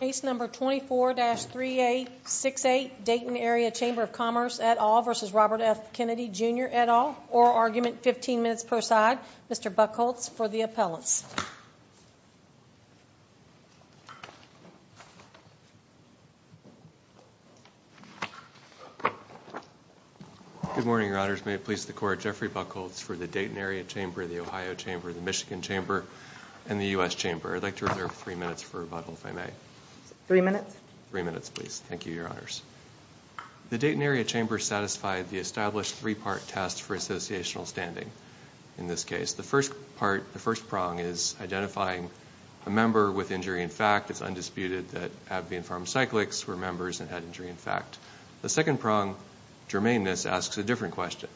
Case number 24-3868 Dayton Area Chamber of Commerce et al. v. Robert F. Kennedy Jr. et al. Oral argument, 15 minutes per side. Mr. Buchholz for the appellants. Good morning, your honors. May it please the court, Jeffrey Buchholz for the Dayton Area Chamber, the Ohio Chamber, the Michigan Chamber, and the U.S. Chamber. I'd like to reserve three minutes for rebuttal, if I may. Three minutes? Three minutes, please. Thank you, your honors. The Dayton Area Chamber satisfied the established three-part test for associational standing in this case. The first part, the first prong, is identifying a member with injury in fact. It's undisputed that AbbVie and Pharmacyclics were members and had injury in fact. The second prong, germaneness, asks a different question.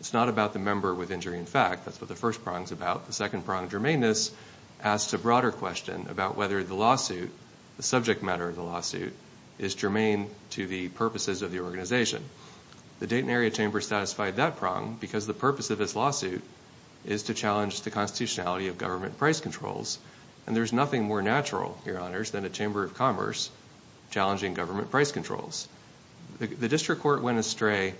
It's not about the member with injury in fact. That's what the first prong's about. The second prong, germaneness, asks a broader question about whether the lawsuit, the subject matter of the lawsuit, is germane to the purposes of the organization. The Dayton Area Chamber satisfied that prong because the purpose of this lawsuit is to challenge the constitutionality of government price controls. And there's nothing more natural, your honors, than a chamber of commerce challenging government price controls. The district court went astray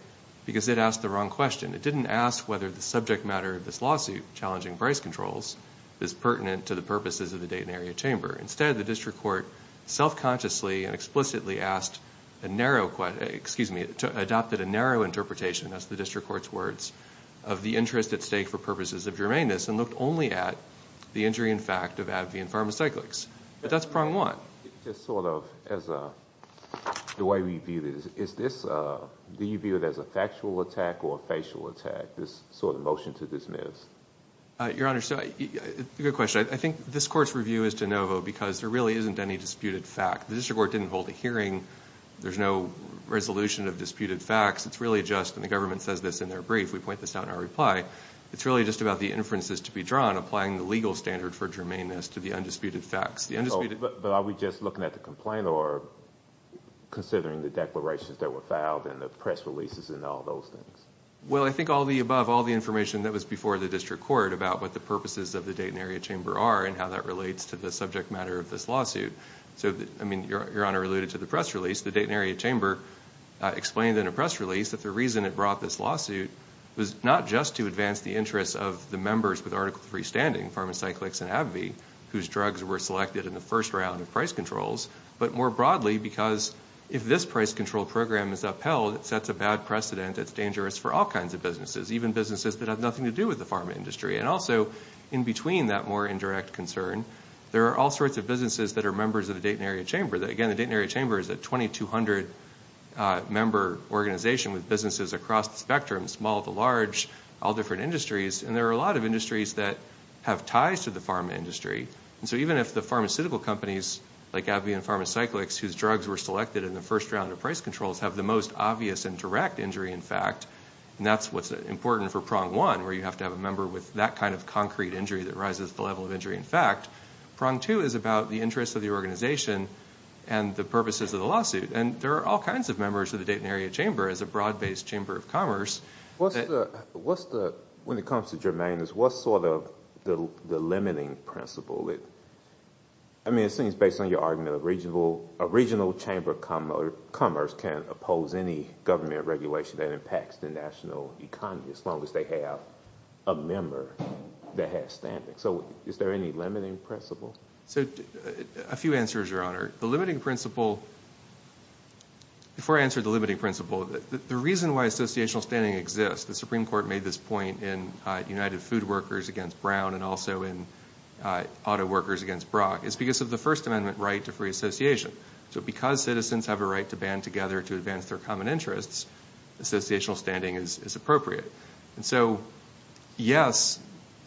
because it asked the wrong question. It didn't ask whether the subject matter of this lawsuit, challenging price controls, is pertinent to the purposes of the Dayton Area Chamber. Instead, the district court self-consciously and explicitly asked a narrow, excuse me, adopted a narrow interpretation, that's the district court's words, of the interest at stake for purposes of germaneness and looked only at the injury in fact of AbbVie and Pharmacyclics. But that's prong one. Just sort of as a, the way we view this, is this, do you view it as a factual attack or a facial attack, this sort of motion to dismiss? Your honors, good question. I think this court's review is de novo because there really isn't any disputed fact. The district court didn't hold a hearing. There's no resolution of disputed facts. It's really just, and the government says this in their brief, we point this out in our reply, it's really just about the inferences to be drawn applying the legal standard for germaneness to the undisputed facts. But are we just looking at the complaint or considering the declarations that were filed and the press releases and all those things? Well, I think all of the above, all the information that was before the district court about what the purposes of the Dayton Area Chamber are and how that relates to the subject matter of this lawsuit. So, I mean, your honor alluded to the press release. The Dayton Area Chamber explained in a press release that the reason it brought this lawsuit was not just to advance the interests of the members with Article III standing, Pharmacyclics and AbbVie, whose drugs were selected in the first round of price controls, but more broadly because if this price control program is upheld, it sets a bad precedent. It's dangerous for all kinds of businesses, even businesses that have nothing to do with the pharma industry. And also, in between that more indirect concern, there are all sorts of businesses that are members of the Dayton Area Chamber. Again, the Dayton Area Chamber is a 2,200-member organization with businesses across the spectrum, small to large, all different industries. And there are a lot of industries that have ties to the pharma industry. And so even if the pharmaceutical companies like AbbVie and Pharmacyclics, whose drugs were selected in the first round of price controls, have the most obvious and direct injury in fact, and that's what's important for Prong 1, where you have to have a member with that kind of concrete injury that rises to the level of injury in fact, Prong 2 is about the interests of the organization and the purposes of the lawsuit. And there are all kinds of members of the Dayton Area Chamber as a broad-based chamber of commerce. When it comes to germane, what's sort of the limiting principle? I mean, it seems based on your argument, a regional chamber of commerce can't oppose any government regulation that impacts the national economy as long as they have a member that has standing. So is there any limiting principle? A few answers, Your Honor. The limiting principle, before I answer the limiting principle, the reason why associational standing exists, the Supreme Court made this point in United Food Workers against Brown and also in Auto Workers against Brock, is because of the First Amendment right to free association. So because citizens have a right to band together to advance their common interests, associational standing is appropriate. And so, yes,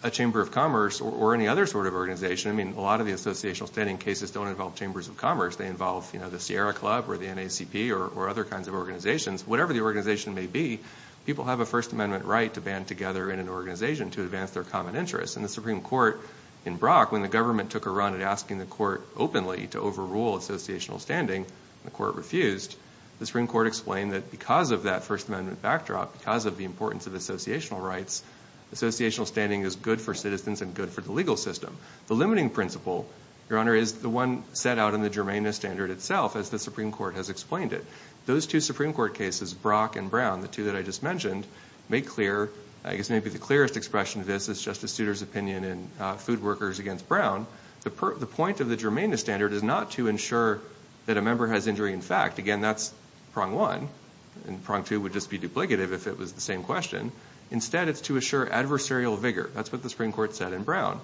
a chamber of commerce or any other sort of organization, I mean, a lot of the associational standing cases don't involve chambers of commerce. They involve the Sierra Club or the NACP or other kinds of organizations. Whatever the organization may be, people have a First Amendment right to band together in an organization to advance their common interests. And the Supreme Court in Brock, when the government took a run at asking the court openly to overrule associational standing, the court refused. The Supreme Court explained that because of that First Amendment backdrop, because of the importance of associational rights, associational standing is good for citizens and good for the legal system. The limiting principle, Your Honor, is the one set out in the Germania Standard itself, as the Supreme Court has explained it. Those two Supreme Court cases, Brock and Brown, the two that I just mentioned, make clear, I guess maybe the clearest expression of this is Justice Souter's opinion in Food Workers against Brown. The point of the Germania Standard is not to ensure that a member has injury in fact. Again, that's prong one, and prong two would just be duplicative if it was the same question. Instead, it's to assure adversarial vigor. That's what the Supreme Court said in Brown,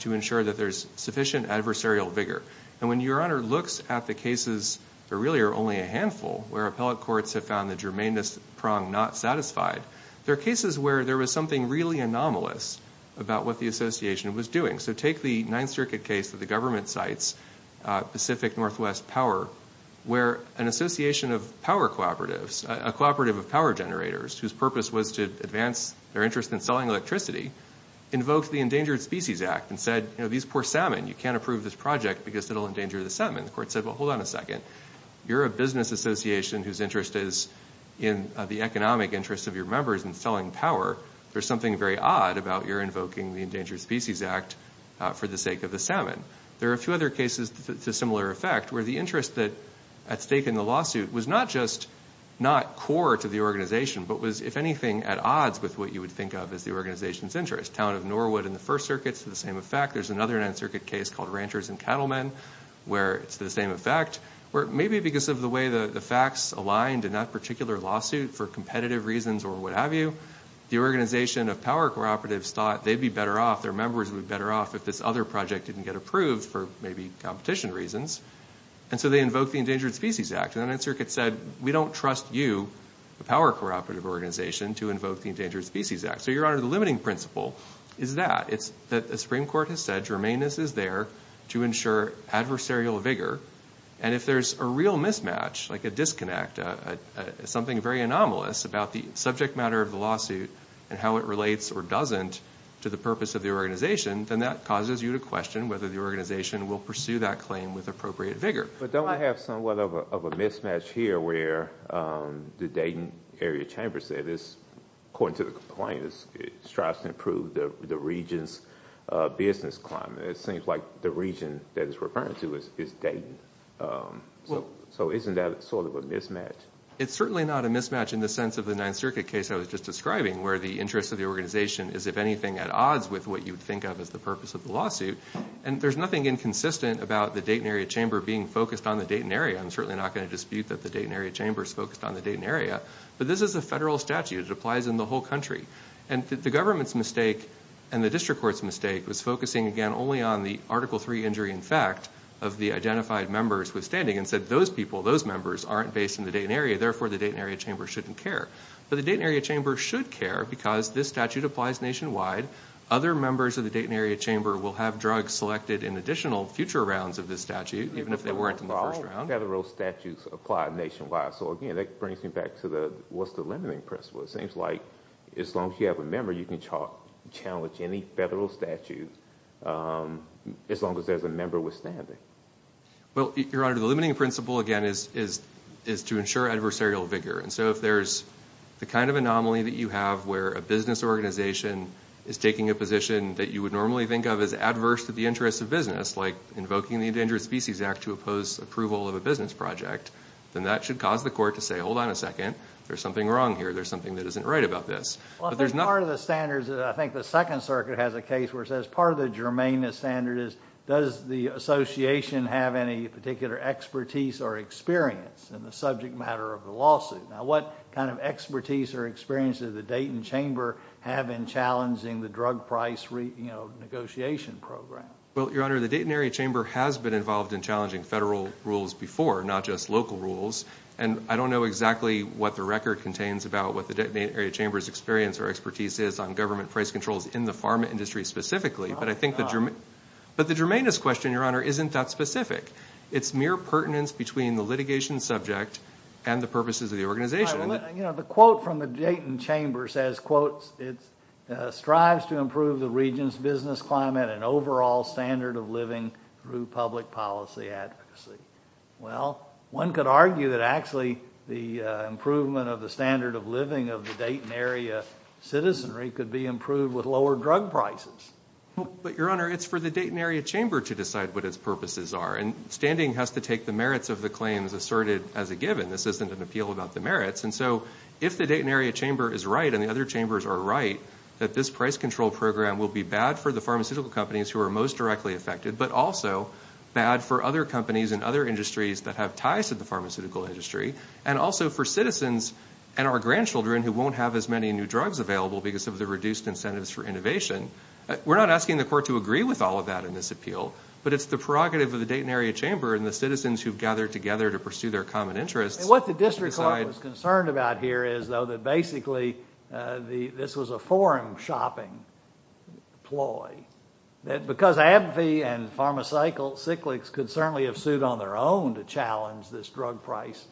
to ensure that there's sufficient adversarial vigor. And when Your Honor looks at the cases that really are only a handful, where appellate courts have found the Germania prong not satisfied, there are cases where there was something really anomalous about what the association was doing. So take the Ninth Circuit case that the government cites, Pacific Northwest Power, where an association of power cooperatives, a cooperative of power generators, whose purpose was to advance their interest in selling electricity, invoked the Endangered Species Act and said, you know, these poor salmon, you can't approve this project because it will endanger the salmon. The court said, well, hold on a second. You're a business association whose interest is in the economic interest of your members in selling power. There's something very odd about your invoking the Endangered Species Act for the sake of the salmon. There are a few other cases to similar effect, where the interest that's at stake in the lawsuit was not just not core to the organization but was, if anything, at odds with what you would think of as the organization's interest. Town of Norwood in the First Circuit, to the same effect. There's another Ninth Circuit case called Ranchers and Cattlemen, where it's the same effect, where maybe because of the way the facts aligned in that particular lawsuit for competitive reasons or what have you, the organization of power cooperatives thought they'd be better off, their members would be better off, if this other project didn't get approved for maybe competition reasons. And so they invoked the Endangered Species Act. And the Ninth Circuit said, we don't trust you, the power cooperative organization, to invoke the Endangered Species Act. So, Your Honor, the limiting principle is that. It's that the Supreme Court has said germaneness is there to ensure adversarial vigor, and if there's a real mismatch, like a disconnect, something very anomalous about the subject matter of the lawsuit and how it relates or doesn't to the purpose of the organization, then that causes you to question whether the organization will pursue that claim with appropriate vigor. But don't I have somewhat of a mismatch here where the Dayton area chamber said, according to the complaint, it strives to improve the region's business climate. It seems like the region that it's referring to is Dayton. So isn't that sort of a mismatch? It's certainly not a mismatch in the sense of the Ninth Circuit case I was just describing, where the interest of the organization is, if anything, at odds with what you would think of as the purpose of the lawsuit. And there's nothing inconsistent about the Dayton area chamber being focused on the Dayton area. I'm certainly not going to dispute that the Dayton area chamber is focused on the Dayton area. But this is a federal statute. It applies in the whole country. And the government's mistake and the district court's mistake was focusing, again, only on the Article III injury in effect of the identified members withstanding and said those people, those members aren't based in the Dayton area, therefore the Dayton area chamber shouldn't care. But the Dayton area chamber should care because this statute applies nationwide. Other members of the Dayton area chamber will have drugs selected in additional future rounds of this statute, even if they weren't in the first round. Federal statutes apply nationwide. So, again, that brings me back to what's the limiting principle. It seems like as long as you have a member, you can challenge any federal statute as long as there's a member withstanding. Well, Your Honor, the limiting principle, again, is to ensure adversarial vigor. And so if there's the kind of anomaly that you have where a business organization is taking a position that you would normally think of as adverse to the interests of business, like invoking the Endangered Species Act to oppose approval of a business project, then that should cause the court to say, hold on a second, there's something wrong here. There's something that isn't right about this. Well, I think part of the standards, I think the Second Circuit has a case where it says part of the germane standard is does the association have any particular expertise or experience in the subject matter of the lawsuit? Now, what kind of expertise or experience does the Dayton Chamber have in challenging the drug price negotiation program? Well, Your Honor, the Dayton area chamber has been involved in challenging federal rules before, not just local rules. And I don't know exactly what the record contains about what the Dayton area chamber's experience or expertise is on government price controls in the pharma industry specifically. But I think the germane question, Your Honor, isn't that specific. It's mere pertinence between the litigation subject and the purposes of the organization. You know, the quote from the Dayton chamber says, quote, it strives to improve the region's business climate and overall standard of living through public policy advocacy. Well, one could argue that actually the improvement of the standard of living of the Dayton area citizenry could be improved with lower drug prices. But, Your Honor, it's for the Dayton area chamber to decide what its purposes are. And standing has to take the merits of the claims asserted as a given. This isn't an appeal about the merits. And so if the Dayton area chamber is right and the other chambers are right, that this price control program will be bad for the pharmaceutical companies who are most directly affected, but also bad for other companies and other industries that have ties to the pharmaceutical industry, and also for citizens and our grandchildren who won't have as many new drugs available because of the reduced incentives for innovation. We're not asking the court to agree with all of that in this appeal, but it's the prerogative of the Dayton area chamber and the citizens who've gathered together to pursue their common interests. What the district court was concerned about here is, though, that basically this was a forum shopping ploy. Because AbbVie and Pharmacyclics could certainly have sued on their own to challenge this drug price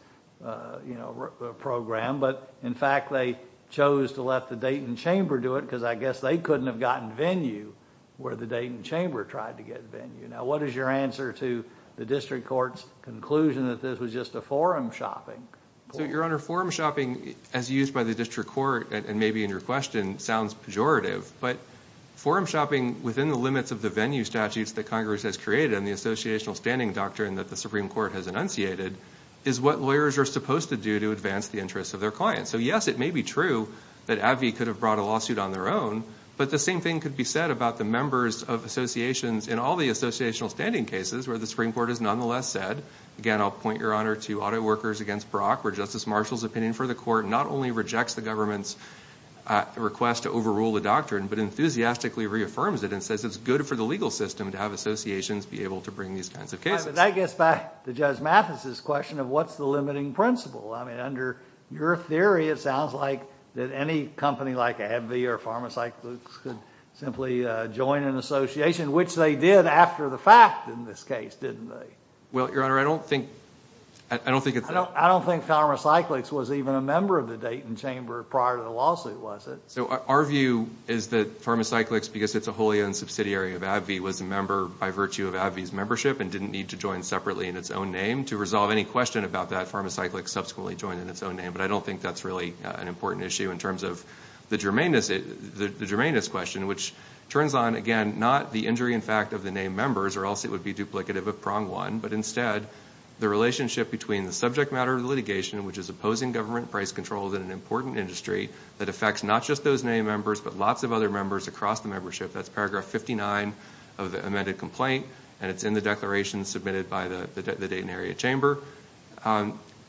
program. But, in fact, they chose to let the Dayton chamber do it because I guess they couldn't have gotten venue where the Dayton chamber tried to get venue. Now, what is your answer to the district court's conclusion that this was just a forum shopping ploy? So, Your Honor, forum shopping, as used by the district court and maybe in your question, sounds pejorative. But forum shopping within the limits of the venue statutes that Congress has created and the associational standing doctrine that the Supreme Court has enunciated is what lawyers are supposed to do to advance the interests of their clients. So, yes, it may be true that AbbVie could have brought a lawsuit on their own, but the same thing could be said about the members of associations in all the associational standing cases where the Supreme Court has nonetheless said, again, I'll point, Your Honor, to auto workers against Brock where Justice Marshall's opinion for the court not only rejects the government's request to overrule the doctrine but enthusiastically reaffirms it and says it's good for the legal system to have associations be able to bring these kinds of cases. But that gets back to Judge Mathis's question of what's the limiting principle. I mean, under your theory, it sounds like that any company like AbbVie or Pharmacyclics could simply join an association, which they did after the fact in this case, didn't they? Well, Your Honor, I don't think it's that. I don't think Pharmacyclics was even a member of the Dayton Chamber prior to the lawsuit, was it? So our view is that Pharmacyclics, because it's a wholly owned subsidiary of AbbVie, was a member by virtue of AbbVie's membership and didn't need to join separately in its own name. To resolve any question about that, Pharmacyclics subsequently joined in its own name. But I don't think that's really an important issue in terms of the germaneness question, which turns on, again, not the injury in fact of the name members or else it would be duplicative of prong one, but instead the relationship between the subject matter of the litigation, which is opposing government price controls in an important industry that affects not just those name members but lots of other members across the membership. That's paragraph 59 of the amended complaint, and it's in the declaration submitted by the Dayton Area Chamber.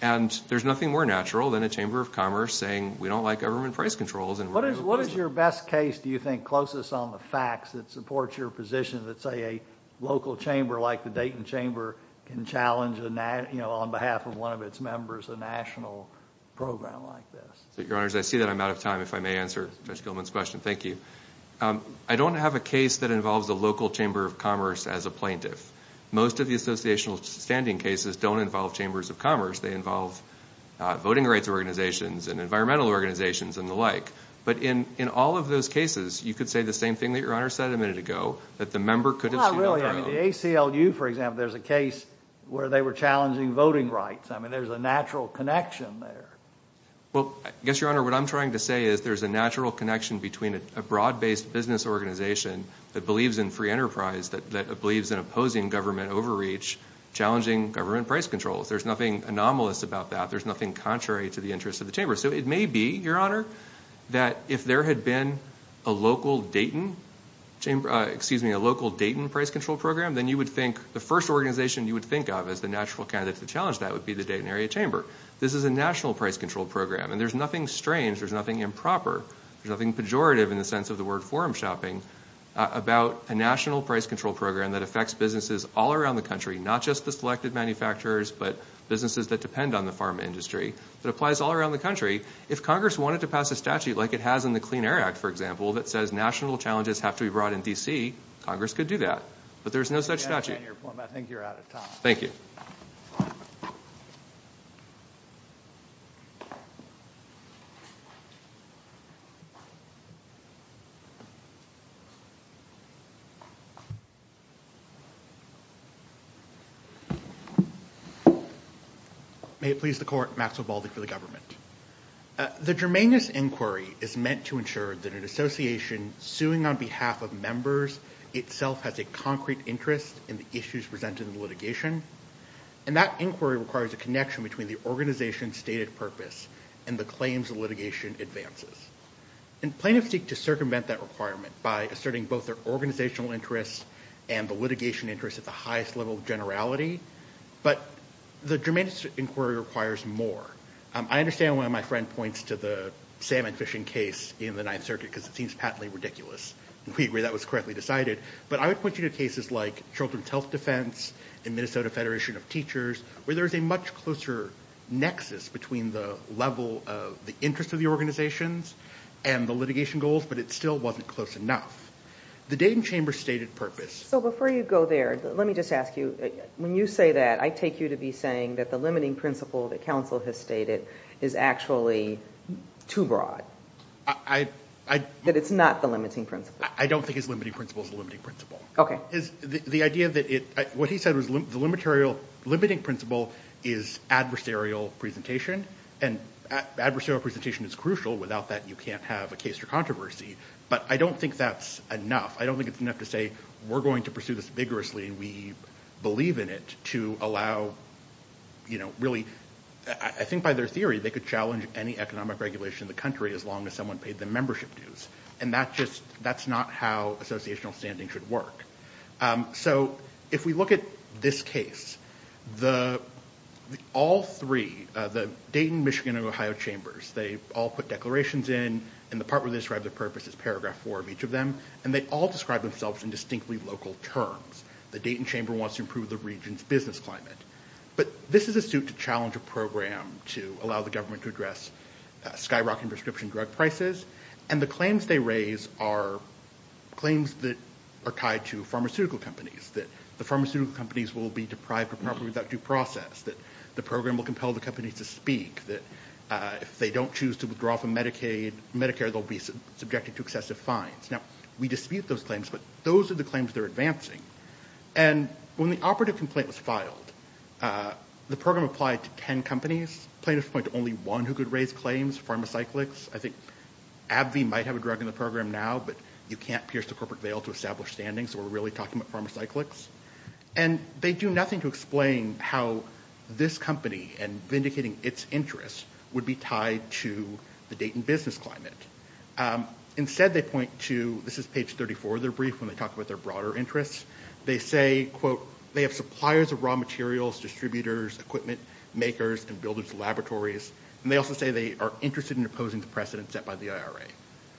And there's nothing more natural than a Chamber of Commerce saying we don't like government price controls. What is your best case, do you think, closest on the facts that supports your position that, say, a local chamber like the Dayton Chamber can challenge on behalf of one of its members a national program like this? Your Honors, I see that I'm out of time, if I may answer Judge Gilman's question. Thank you. I don't have a case that involves a local Chamber of Commerce as a plaintiff. Most of the associational standing cases don't involve Chambers of Commerce. They involve voting rights organizations and environmental organizations and the like. But in all of those cases, you could say the same thing that Your Honor said a minute ago, that the member could assume their own. Well, not really. I mean, the ACLU, for example, there's a case where they were challenging voting rights. I mean, there's a natural connection there. Well, I guess, Your Honor, what I'm trying to say is there's a natural connection between a broad-based business organization that believes in free enterprise, that believes in opposing government overreach, challenging government price controls. There's nothing anomalous about that. There's nothing contrary to the interests of the Chamber. So it may be, Your Honor, that if there had been a local Dayton price control program, then you would think the first organization you would think of as the natural candidate to challenge that would be the Dayton Area Chamber. This is a national price control program, and there's nothing strange. There's nothing improper. There's nothing pejorative in the sense of the word forum shopping about a national price control program that affects businesses all around the country, not just the selected manufacturers, but businesses that depend on the pharma industry, that applies all around the country. If Congress wanted to pass a statute like it has in the Clean Air Act, for example, that says national challenges have to be brought in D.C., Congress could do that. But there's no such statute. I think you're out of time. Thank you. May it please the Court. Maxwell Baldy for the government. The germaneous inquiry is meant to ensure that an association suing on behalf of members itself has a concrete interest in the issues presented in the litigation, and that inquiry requires a connection between the organization's stated purpose and the claims the litigation advances. And plaintiffs seek to circumvent that requirement by asserting both their organizational interests and the litigation interests at the highest level of generality, but the germaneous inquiry requires more. I understand why my friend points to the salmon fishing case in the Ninth Circuit, because it seems patently ridiculous, and we agree that was correctly decided, but I would point you to cases like Children's Health Defense and Minnesota Federation of Teachers, where there's a much closer nexus between the level of the interests of the organizations and the litigation goals, but it still wasn't close enough. The Dayton Chamber's stated purpose So before you go there, let me just ask you, when you say that, I take you to be saying that the limiting principle that counsel has stated is actually too broad. That it's not the limiting principle. I don't think his limiting principle is the limiting principle. Okay. What he said was the limiting principle is adversarial presentation, and adversarial presentation is crucial. Without that, you can't have a case or controversy. But I don't think that's enough. I don't think it's enough to say, we're going to pursue this vigorously, and we believe in it to allow, you know, really, I think by their theory, they could challenge any economic regulation in the country as long as someone paid them membership dues, and that's not how associational standing should work. So if we look at this case, all three, the Dayton, Michigan, and Ohio Chambers, they all put declarations in, and the part where they describe their purpose is paragraph four of each of them, and they all describe themselves in distinctly local terms. The Dayton Chamber wants to improve the region's business climate. But this is a suit to challenge a program to allow the government to address skyrocketing prescription drug prices, and the claims they raise are claims that are tied to pharmaceutical companies, that the pharmaceutical companies will be deprived of property without due process, that the program will compel the companies to speak, that if they don't choose to withdraw from Medicare, they'll be subjected to excessive fines. Now, we dispute those claims, but those are the claims they're advancing. And when the operative complaint was filed, the program applied to 10 companies. Plaintiffs point to only one who could raise claims, Pharmacyclics. I think AbbVie might have a drug in the program now, but you can't pierce the corporate veil to establish standing, so we're really talking about Pharmacyclics. And they do nothing to explain how this company, and vindicating its interests, would be tied to the Dayton business climate. Instead, they point to, this is page 34 of their brief, when they talk about their broader interests, they say, quote, they have suppliers of raw materials, distributors, equipment makers, and builders of laboratories, and they also say they are interested in opposing the precedent set by the IRA.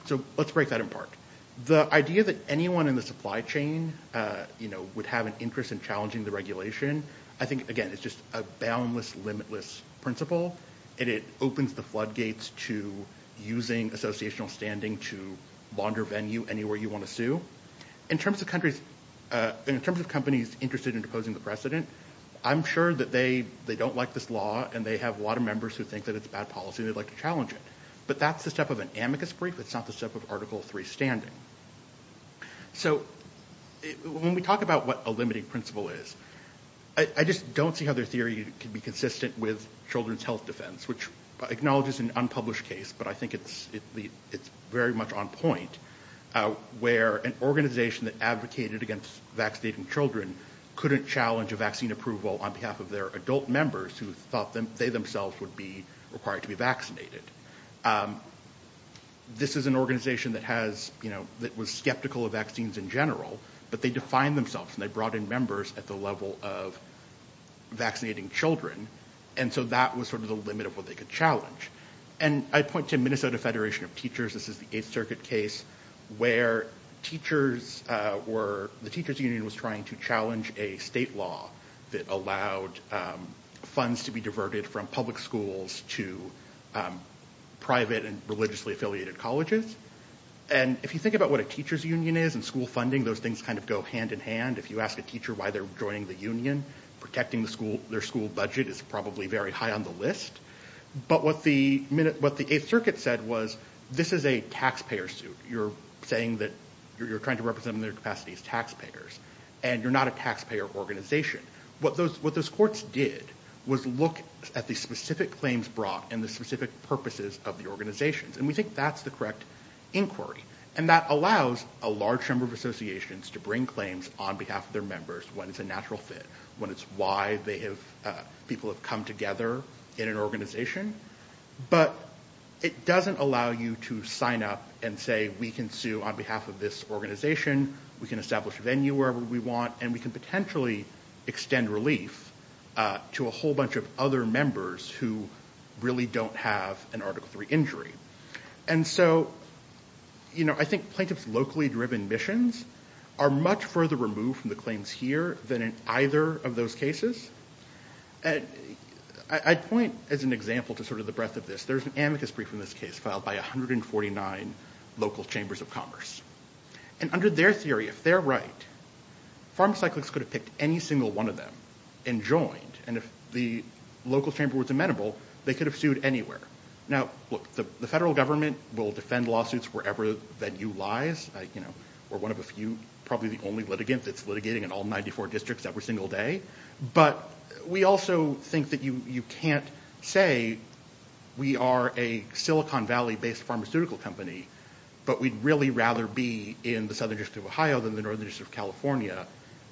So let's break that in part. The idea that anyone in the supply chain, you know, would have an interest in challenging the regulation, I think, again, it's just a boundless, limitless principle, and it opens the floodgates to using associational standing to launder venue anywhere you want to sue. In terms of companies interested in opposing the precedent, I'm sure that they don't like this law, and they have a lot of members who think that it's bad policy, and they'd like to challenge it. But that's the step of an amicus brief. It's not the step of Article III standing. So when we talk about what a limiting principle is, I just don't see how their theory can be consistent with children's health defense, which acknowledges an unpublished case, but I think it's very much on point, where an organization that advocated against vaccinating children couldn't challenge a vaccine approval on behalf of their adult members who thought they themselves would be required to be vaccinated. This is an organization that has, you know, that was skeptical of vaccines in general, but they defined themselves, and they brought in members at the level of vaccinating children, and so that was sort of the limit of what they could challenge. And I point to Minnesota Federation of Teachers. This is the Eighth Circuit case where the teachers union was trying to challenge a state law that allowed funds to be diverted from public schools to private and religiously affiliated colleges. And if you think about what a teacher's union is and school funding, those things kind of go hand in hand. If you ask a teacher why they're joining the union, protecting their school budget is probably very high on the list. But what the Eighth Circuit said was, this is a taxpayer suit. You're saying that you're trying to represent in their capacity as taxpayers, and you're not a taxpayer organization. What those courts did was look at the specific claims brought and the specific purposes of the organizations, and we think that's the correct inquiry. And that allows a large number of associations to bring claims on behalf of their members when it's a natural fit, when it's why people have come together in an organization. But it doesn't allow you to sign up and say, we can sue on behalf of this organization, we can establish a venue wherever we want, and we can potentially extend relief to a whole bunch of other members who really don't have an Article III injury. And so I think plaintiffs' locally driven missions are much further removed from the claims here than in either of those cases. I'd point as an example to sort of the breadth of this. There's an amicus brief in this case filed by 149 local chambers of commerce. And under their theory, if they're right, pharmacyclics could have picked any single one of them and joined. And if the local chamber was amenable, they could have sued anywhere. Now, look, the federal government will defend lawsuits wherever that you lies. We're one of a few, probably the only litigant that's litigating in all 94 districts every single day. But we also think that you can't say we are a Silicon Valley-based pharmaceutical company, but we'd really rather be in the southern district of Ohio than the northern district of California.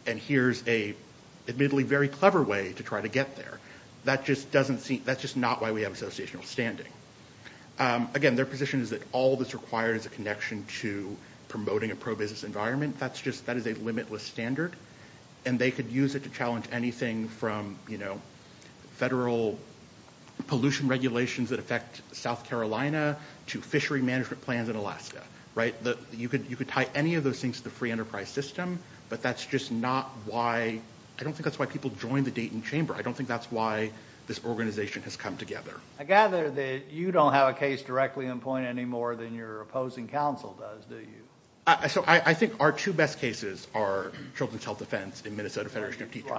And here's an admittedly very clever way to try to get there. That's just not why we have associational standing. Again, their position is that all that's required is a connection to promoting a pro-business environment. That is a limitless standard. And they could use it to challenge anything from federal pollution regulations that affect South Carolina to fishery management plans in Alaska. You could tie any of those things to the free enterprise system, but that's just not why, I don't think that's why people join the Dayton Chamber. I don't think that's why this organization has come together. I gather that you don't have a case directly in point anymore than your opposing counsel does, do you? I think our two best cases are children's health defense and Minnesota Federation of Teachers.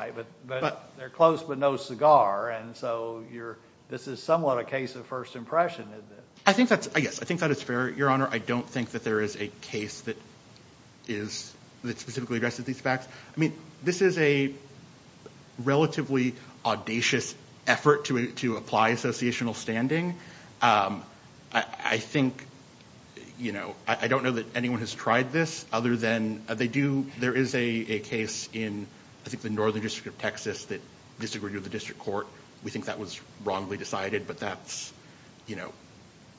They're close but no cigar, and so this is somewhat a case of first impression, isn't it? I think that's fair, Your Honor. I don't think that there is a case that specifically addresses these facts. I mean, this is a relatively audacious effort to apply associational standing. I think, you know, I don't know that anyone has tried this other than they do, there is a case in, I think, the Northern District of Texas that disagreed with the district court. We think that was wrongly decided, but that's, you know,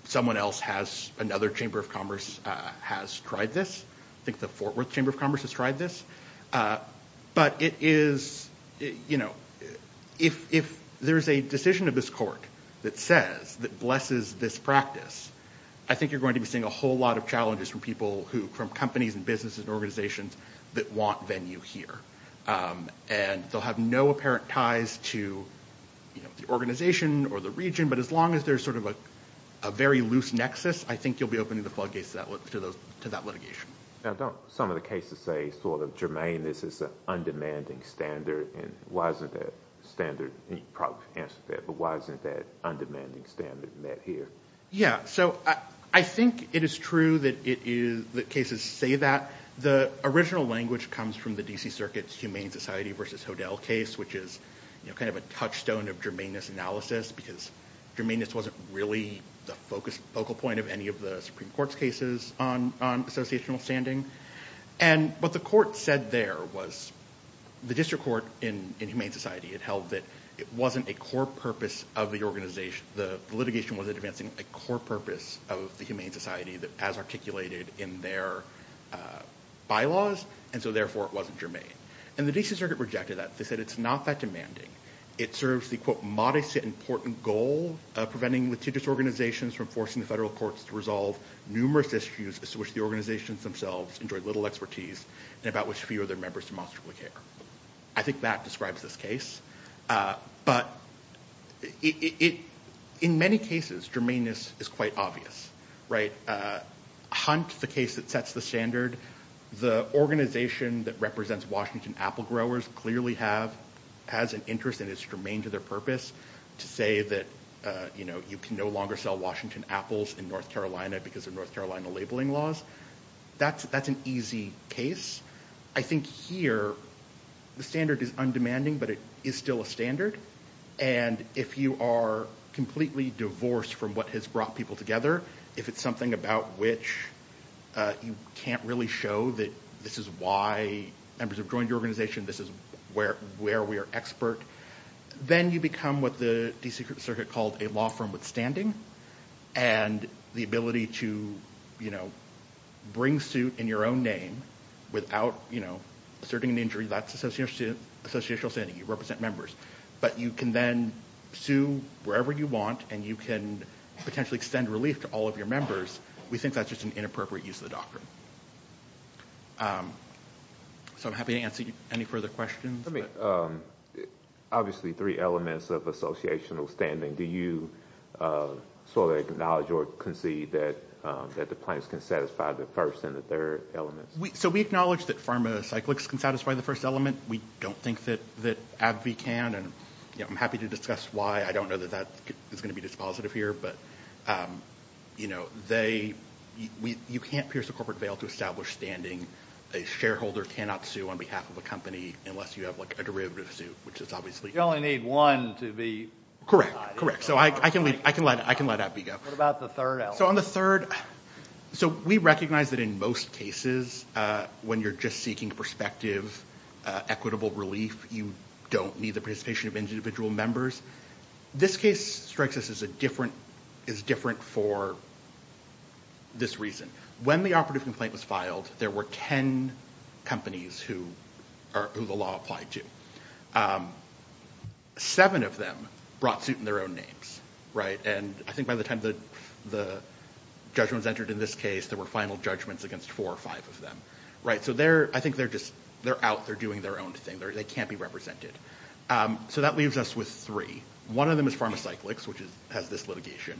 someone else has, another Chamber of Commerce has tried this. I think the Fort Worth Chamber of Commerce has tried this. But it is, you know, if there is a decision of this court that says, that blesses this practice, I think you're going to be seeing a whole lot of challenges from people who, from companies and businesses and organizations that want venue here. And they'll have no apparent ties to the organization or the region, but as long as there's sort of a very loose nexus, I think you'll be opening the floodgates to that litigation. Now don't some of the cases say sort of germane, this is an undemanding standard, and why isn't that standard, and you probably answered that, but why isn't that undemanding standard met here? Yeah, so I think it is true that it is, that cases say that. The original language comes from the D.C. Circuit's Humane Society v. Hodel case, which is kind of a touchstone of germaneness analysis, because germaneness wasn't really the focal point of any of the Supreme Court's cases on associational standing. And what the court said there was, the district court in Humane Society had held that it wasn't a core purpose of the organization, the litigation wasn't advancing a core purpose of the Humane Society as articulated in their bylaws, and so therefore it wasn't germane. And the D.C. Circuit rejected that. They said it's not that demanding. It serves the, quote, modest yet important goal of preventing litigious organizations from forcing the federal courts to resolve numerous issues as to which the organizations themselves enjoy little expertise and about which few of their members demonstrably care. I think that describes this case. But in many cases, germaneness is quite obvious, right? Hunt, the case that sets the standard, the organization that represents Washington apple growers clearly has an interest and is germane to their purpose to say that, you know, you can no longer sell Washington apples in North Carolina because of North Carolina labeling laws. That's an easy case. I think here the standard is undemanding, but it is still a standard. And if you are completely divorced from what has brought people together, if it's something about which you can't really show that this is why members have joined the organization, this is where we are expert, then you become what the D.C. Circuit called a law firm withstanding and the ability to, you know, bring suit in your own name without, you know, asserting an injury, that's associational standing. You represent members. But you can then sue wherever you want and you can potentially extend relief to all of your members. We think that's just an inappropriate use of the doctrine. So I'm happy to answer any further questions. Obviously three elements of associational standing. Do you sort of acknowledge or concede that the plaintiffs can satisfy the first and the third elements? So we acknowledge that pharmacyclics can satisfy the first element. We don't think that AbbVie can. And, you know, I'm happy to discuss why. I don't know that that is going to be dispositive here. But, you know, you can't pierce a corporate veil to establish standing. A shareholder cannot sue on behalf of a company unless you have, like, a derivative suit, which is obviously. You only need one to be satisfied. Correct, correct. So I can let AbbVie go. What about the third element? So on the third, so we recognize that in most cases when you're just seeking perspective, equitable relief, you don't need the participation of individual members. This case strikes us as different for this reason. When the operative complaint was filed, there were 10 companies who the law applied to. Seven of them brought suit in their own names. And I think by the time the judgments entered in this case, there were final judgments against four or five of them. So I think they're out. They're doing their own thing. They can't be represented. So that leaves us with three. One of them is pharmacyclics, which has this litigation.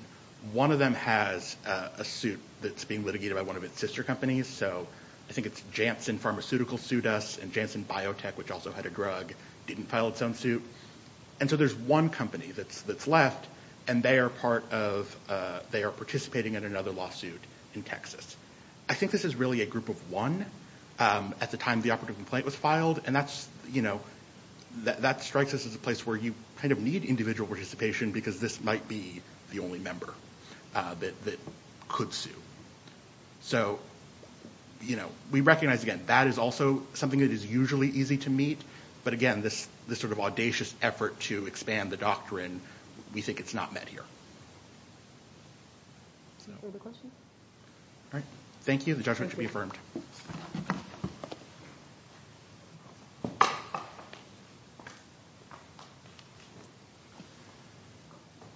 One of them has a suit that's being litigated by one of its sister companies. So I think it's Janssen Pharmaceutical sued us, and Janssen Biotech, which also had a drug, didn't file its own suit. And so there's one company that's left, and they are participating in another lawsuit in Texas. I think this is really a group of one at the time the operative complaint was filed, and that strikes us as a place where you kind of need individual participation because this might be the only member that could sue. So, you know, we recognize, again, that is also something that is usually easy to meet. But again, this sort of audacious effort to expand the doctrine, we think it's not met here. Further questions? All right. Thank you. The judgment should be affirmed.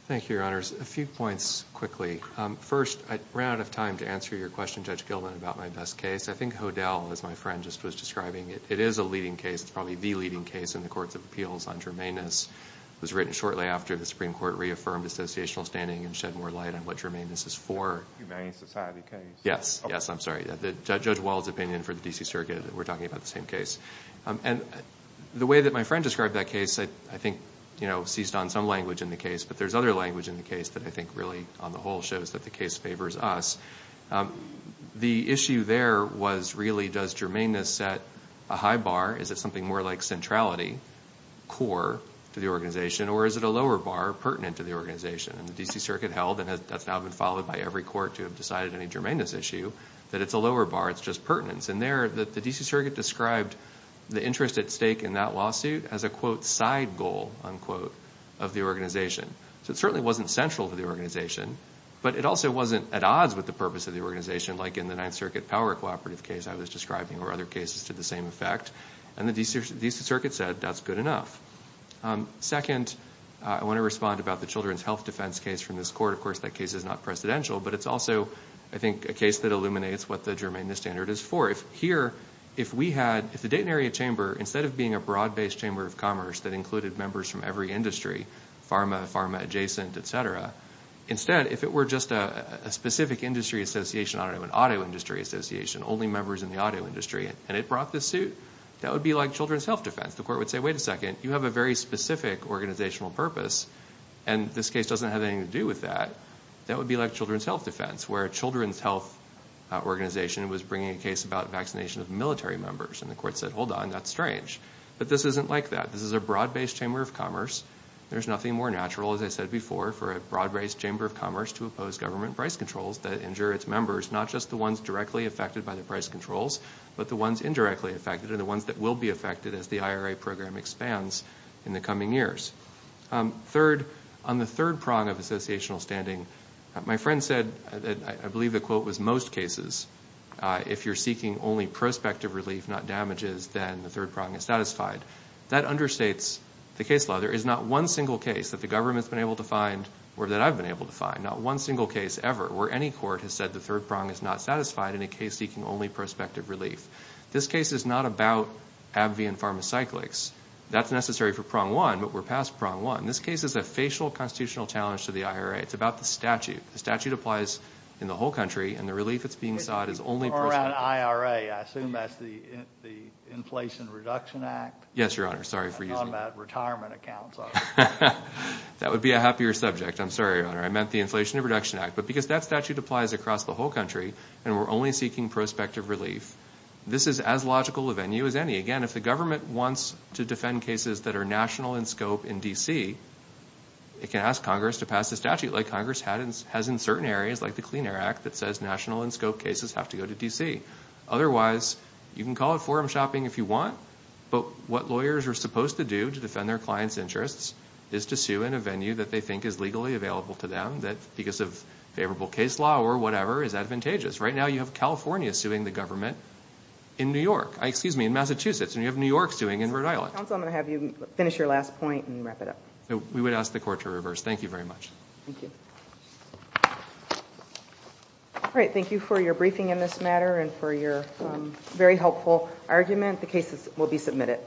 Thank you, Your Honors. A few points quickly. First, I ran out of time to answer your question, Judge Gilman, about my best case. I think Hodel, as my friend just was describing it, it is a leading case. It's probably the leading case in the courts of appeals on germanness. It was written shortly after the Supreme Court reaffirmed associational standing and shed more light on what germanness is for. Humane society case. Yes, yes, I'm sorry. Judge Wall's opinion for the D.C. Circuit, we're talking about the same case. And the way that my friend described that case, I think seized on some language in the case, but there's other language in the case that I think really on the whole shows that the case favors us. The issue there was really, does germanness set a high bar? Is it something more like centrality, core to the organization, or is it a lower bar pertinent to the organization? And the D.C. Circuit held, and that's now been followed by every court to have decided any germanness issue, that it's a lower bar, it's just pertinence. And there, the D.C. Circuit described the interest at stake in that lawsuit as a, quote, side goal, unquote, of the organization. So it certainly wasn't central to the organization, but it also wasn't at odds with the purpose of the organization, like in the Ninth Circuit power cooperative case I was describing or other cases to the same effect. And the D.C. Circuit said, that's good enough. Second, I want to respond about the children's health defense case from this court. Of course, that case is not precedential, but it's also, I think, a case that illuminates what the germanness standard is for. If here, if we had, if the Dayton area chamber, instead of being a broad-based chamber of commerce that included members from every industry, pharma, pharma adjacent, et cetera, instead, if it were just a specific industry association, I don't know, an auto industry association, only members in the auto industry, and it brought this suit, that would be like children's health defense. The court would say, wait a second, you have a very specific organizational purpose, and this case doesn't have anything to do with that. That would be like children's health defense, where a children's health organization was bringing a case about vaccination of military members. And the court said, hold on, that's strange. But this isn't like that. This is a broad-based chamber of commerce. There's nothing more natural, as I said before, for a broad-based chamber of commerce to oppose government price controls that injure its members, not just the ones directly affected by the price controls, but the ones indirectly affected, and the ones that will be affected as the IRA program expands in the coming years. Third, on the third prong of associational standing, my friend said, I believe the quote was most cases, if you're seeking only prospective relief, not damages, then the third prong is satisfied. That understates the case law. There is not one single case that the government's been able to find, or that I've been able to find, not one single case ever, where any court has said the third prong is not satisfied in a case seeking only prospective relief. This case is not about AbbVie and Pharmacyclics. That's necessary for prong one, but we're past prong one. This case is a facial constitutional challenge to the IRA. It's about the statute. The statute applies in the whole country, and the relief that's being sought is only prospective. You're talking about IRA. I assume that's the Inflation Reduction Act? Yes, Your Honor. Sorry for using that. I thought about retirement accounts. That would be a happier subject. I'm sorry, Your Honor. I meant the Inflation Reduction Act. But because that statute applies across the whole country, and we're only seeking prospective relief, this is as logical a venue as any. Again, if the government wants to defend cases that are national in scope in D.C., it can ask Congress to pass a statute like Congress has in certain areas, like the Clean Air Act that says national in scope cases have to go to D.C. Otherwise, you can call it forum shopping if you want, but what lawyers are supposed to do to defend their clients' interests is to sue in a venue that they think is legally available to them that, because of favorable case law or whatever, is advantageous. Right now you have California suing the government in New York. Excuse me, in Massachusetts, and you have New York suing in Rhode Island. Counsel, I'm going to have you finish your last point and wrap it up. We would ask the Court to reverse. Thank you very much. Thank you. All right, thank you for your briefing in this matter and for your very helpful argument. The cases will be submitted.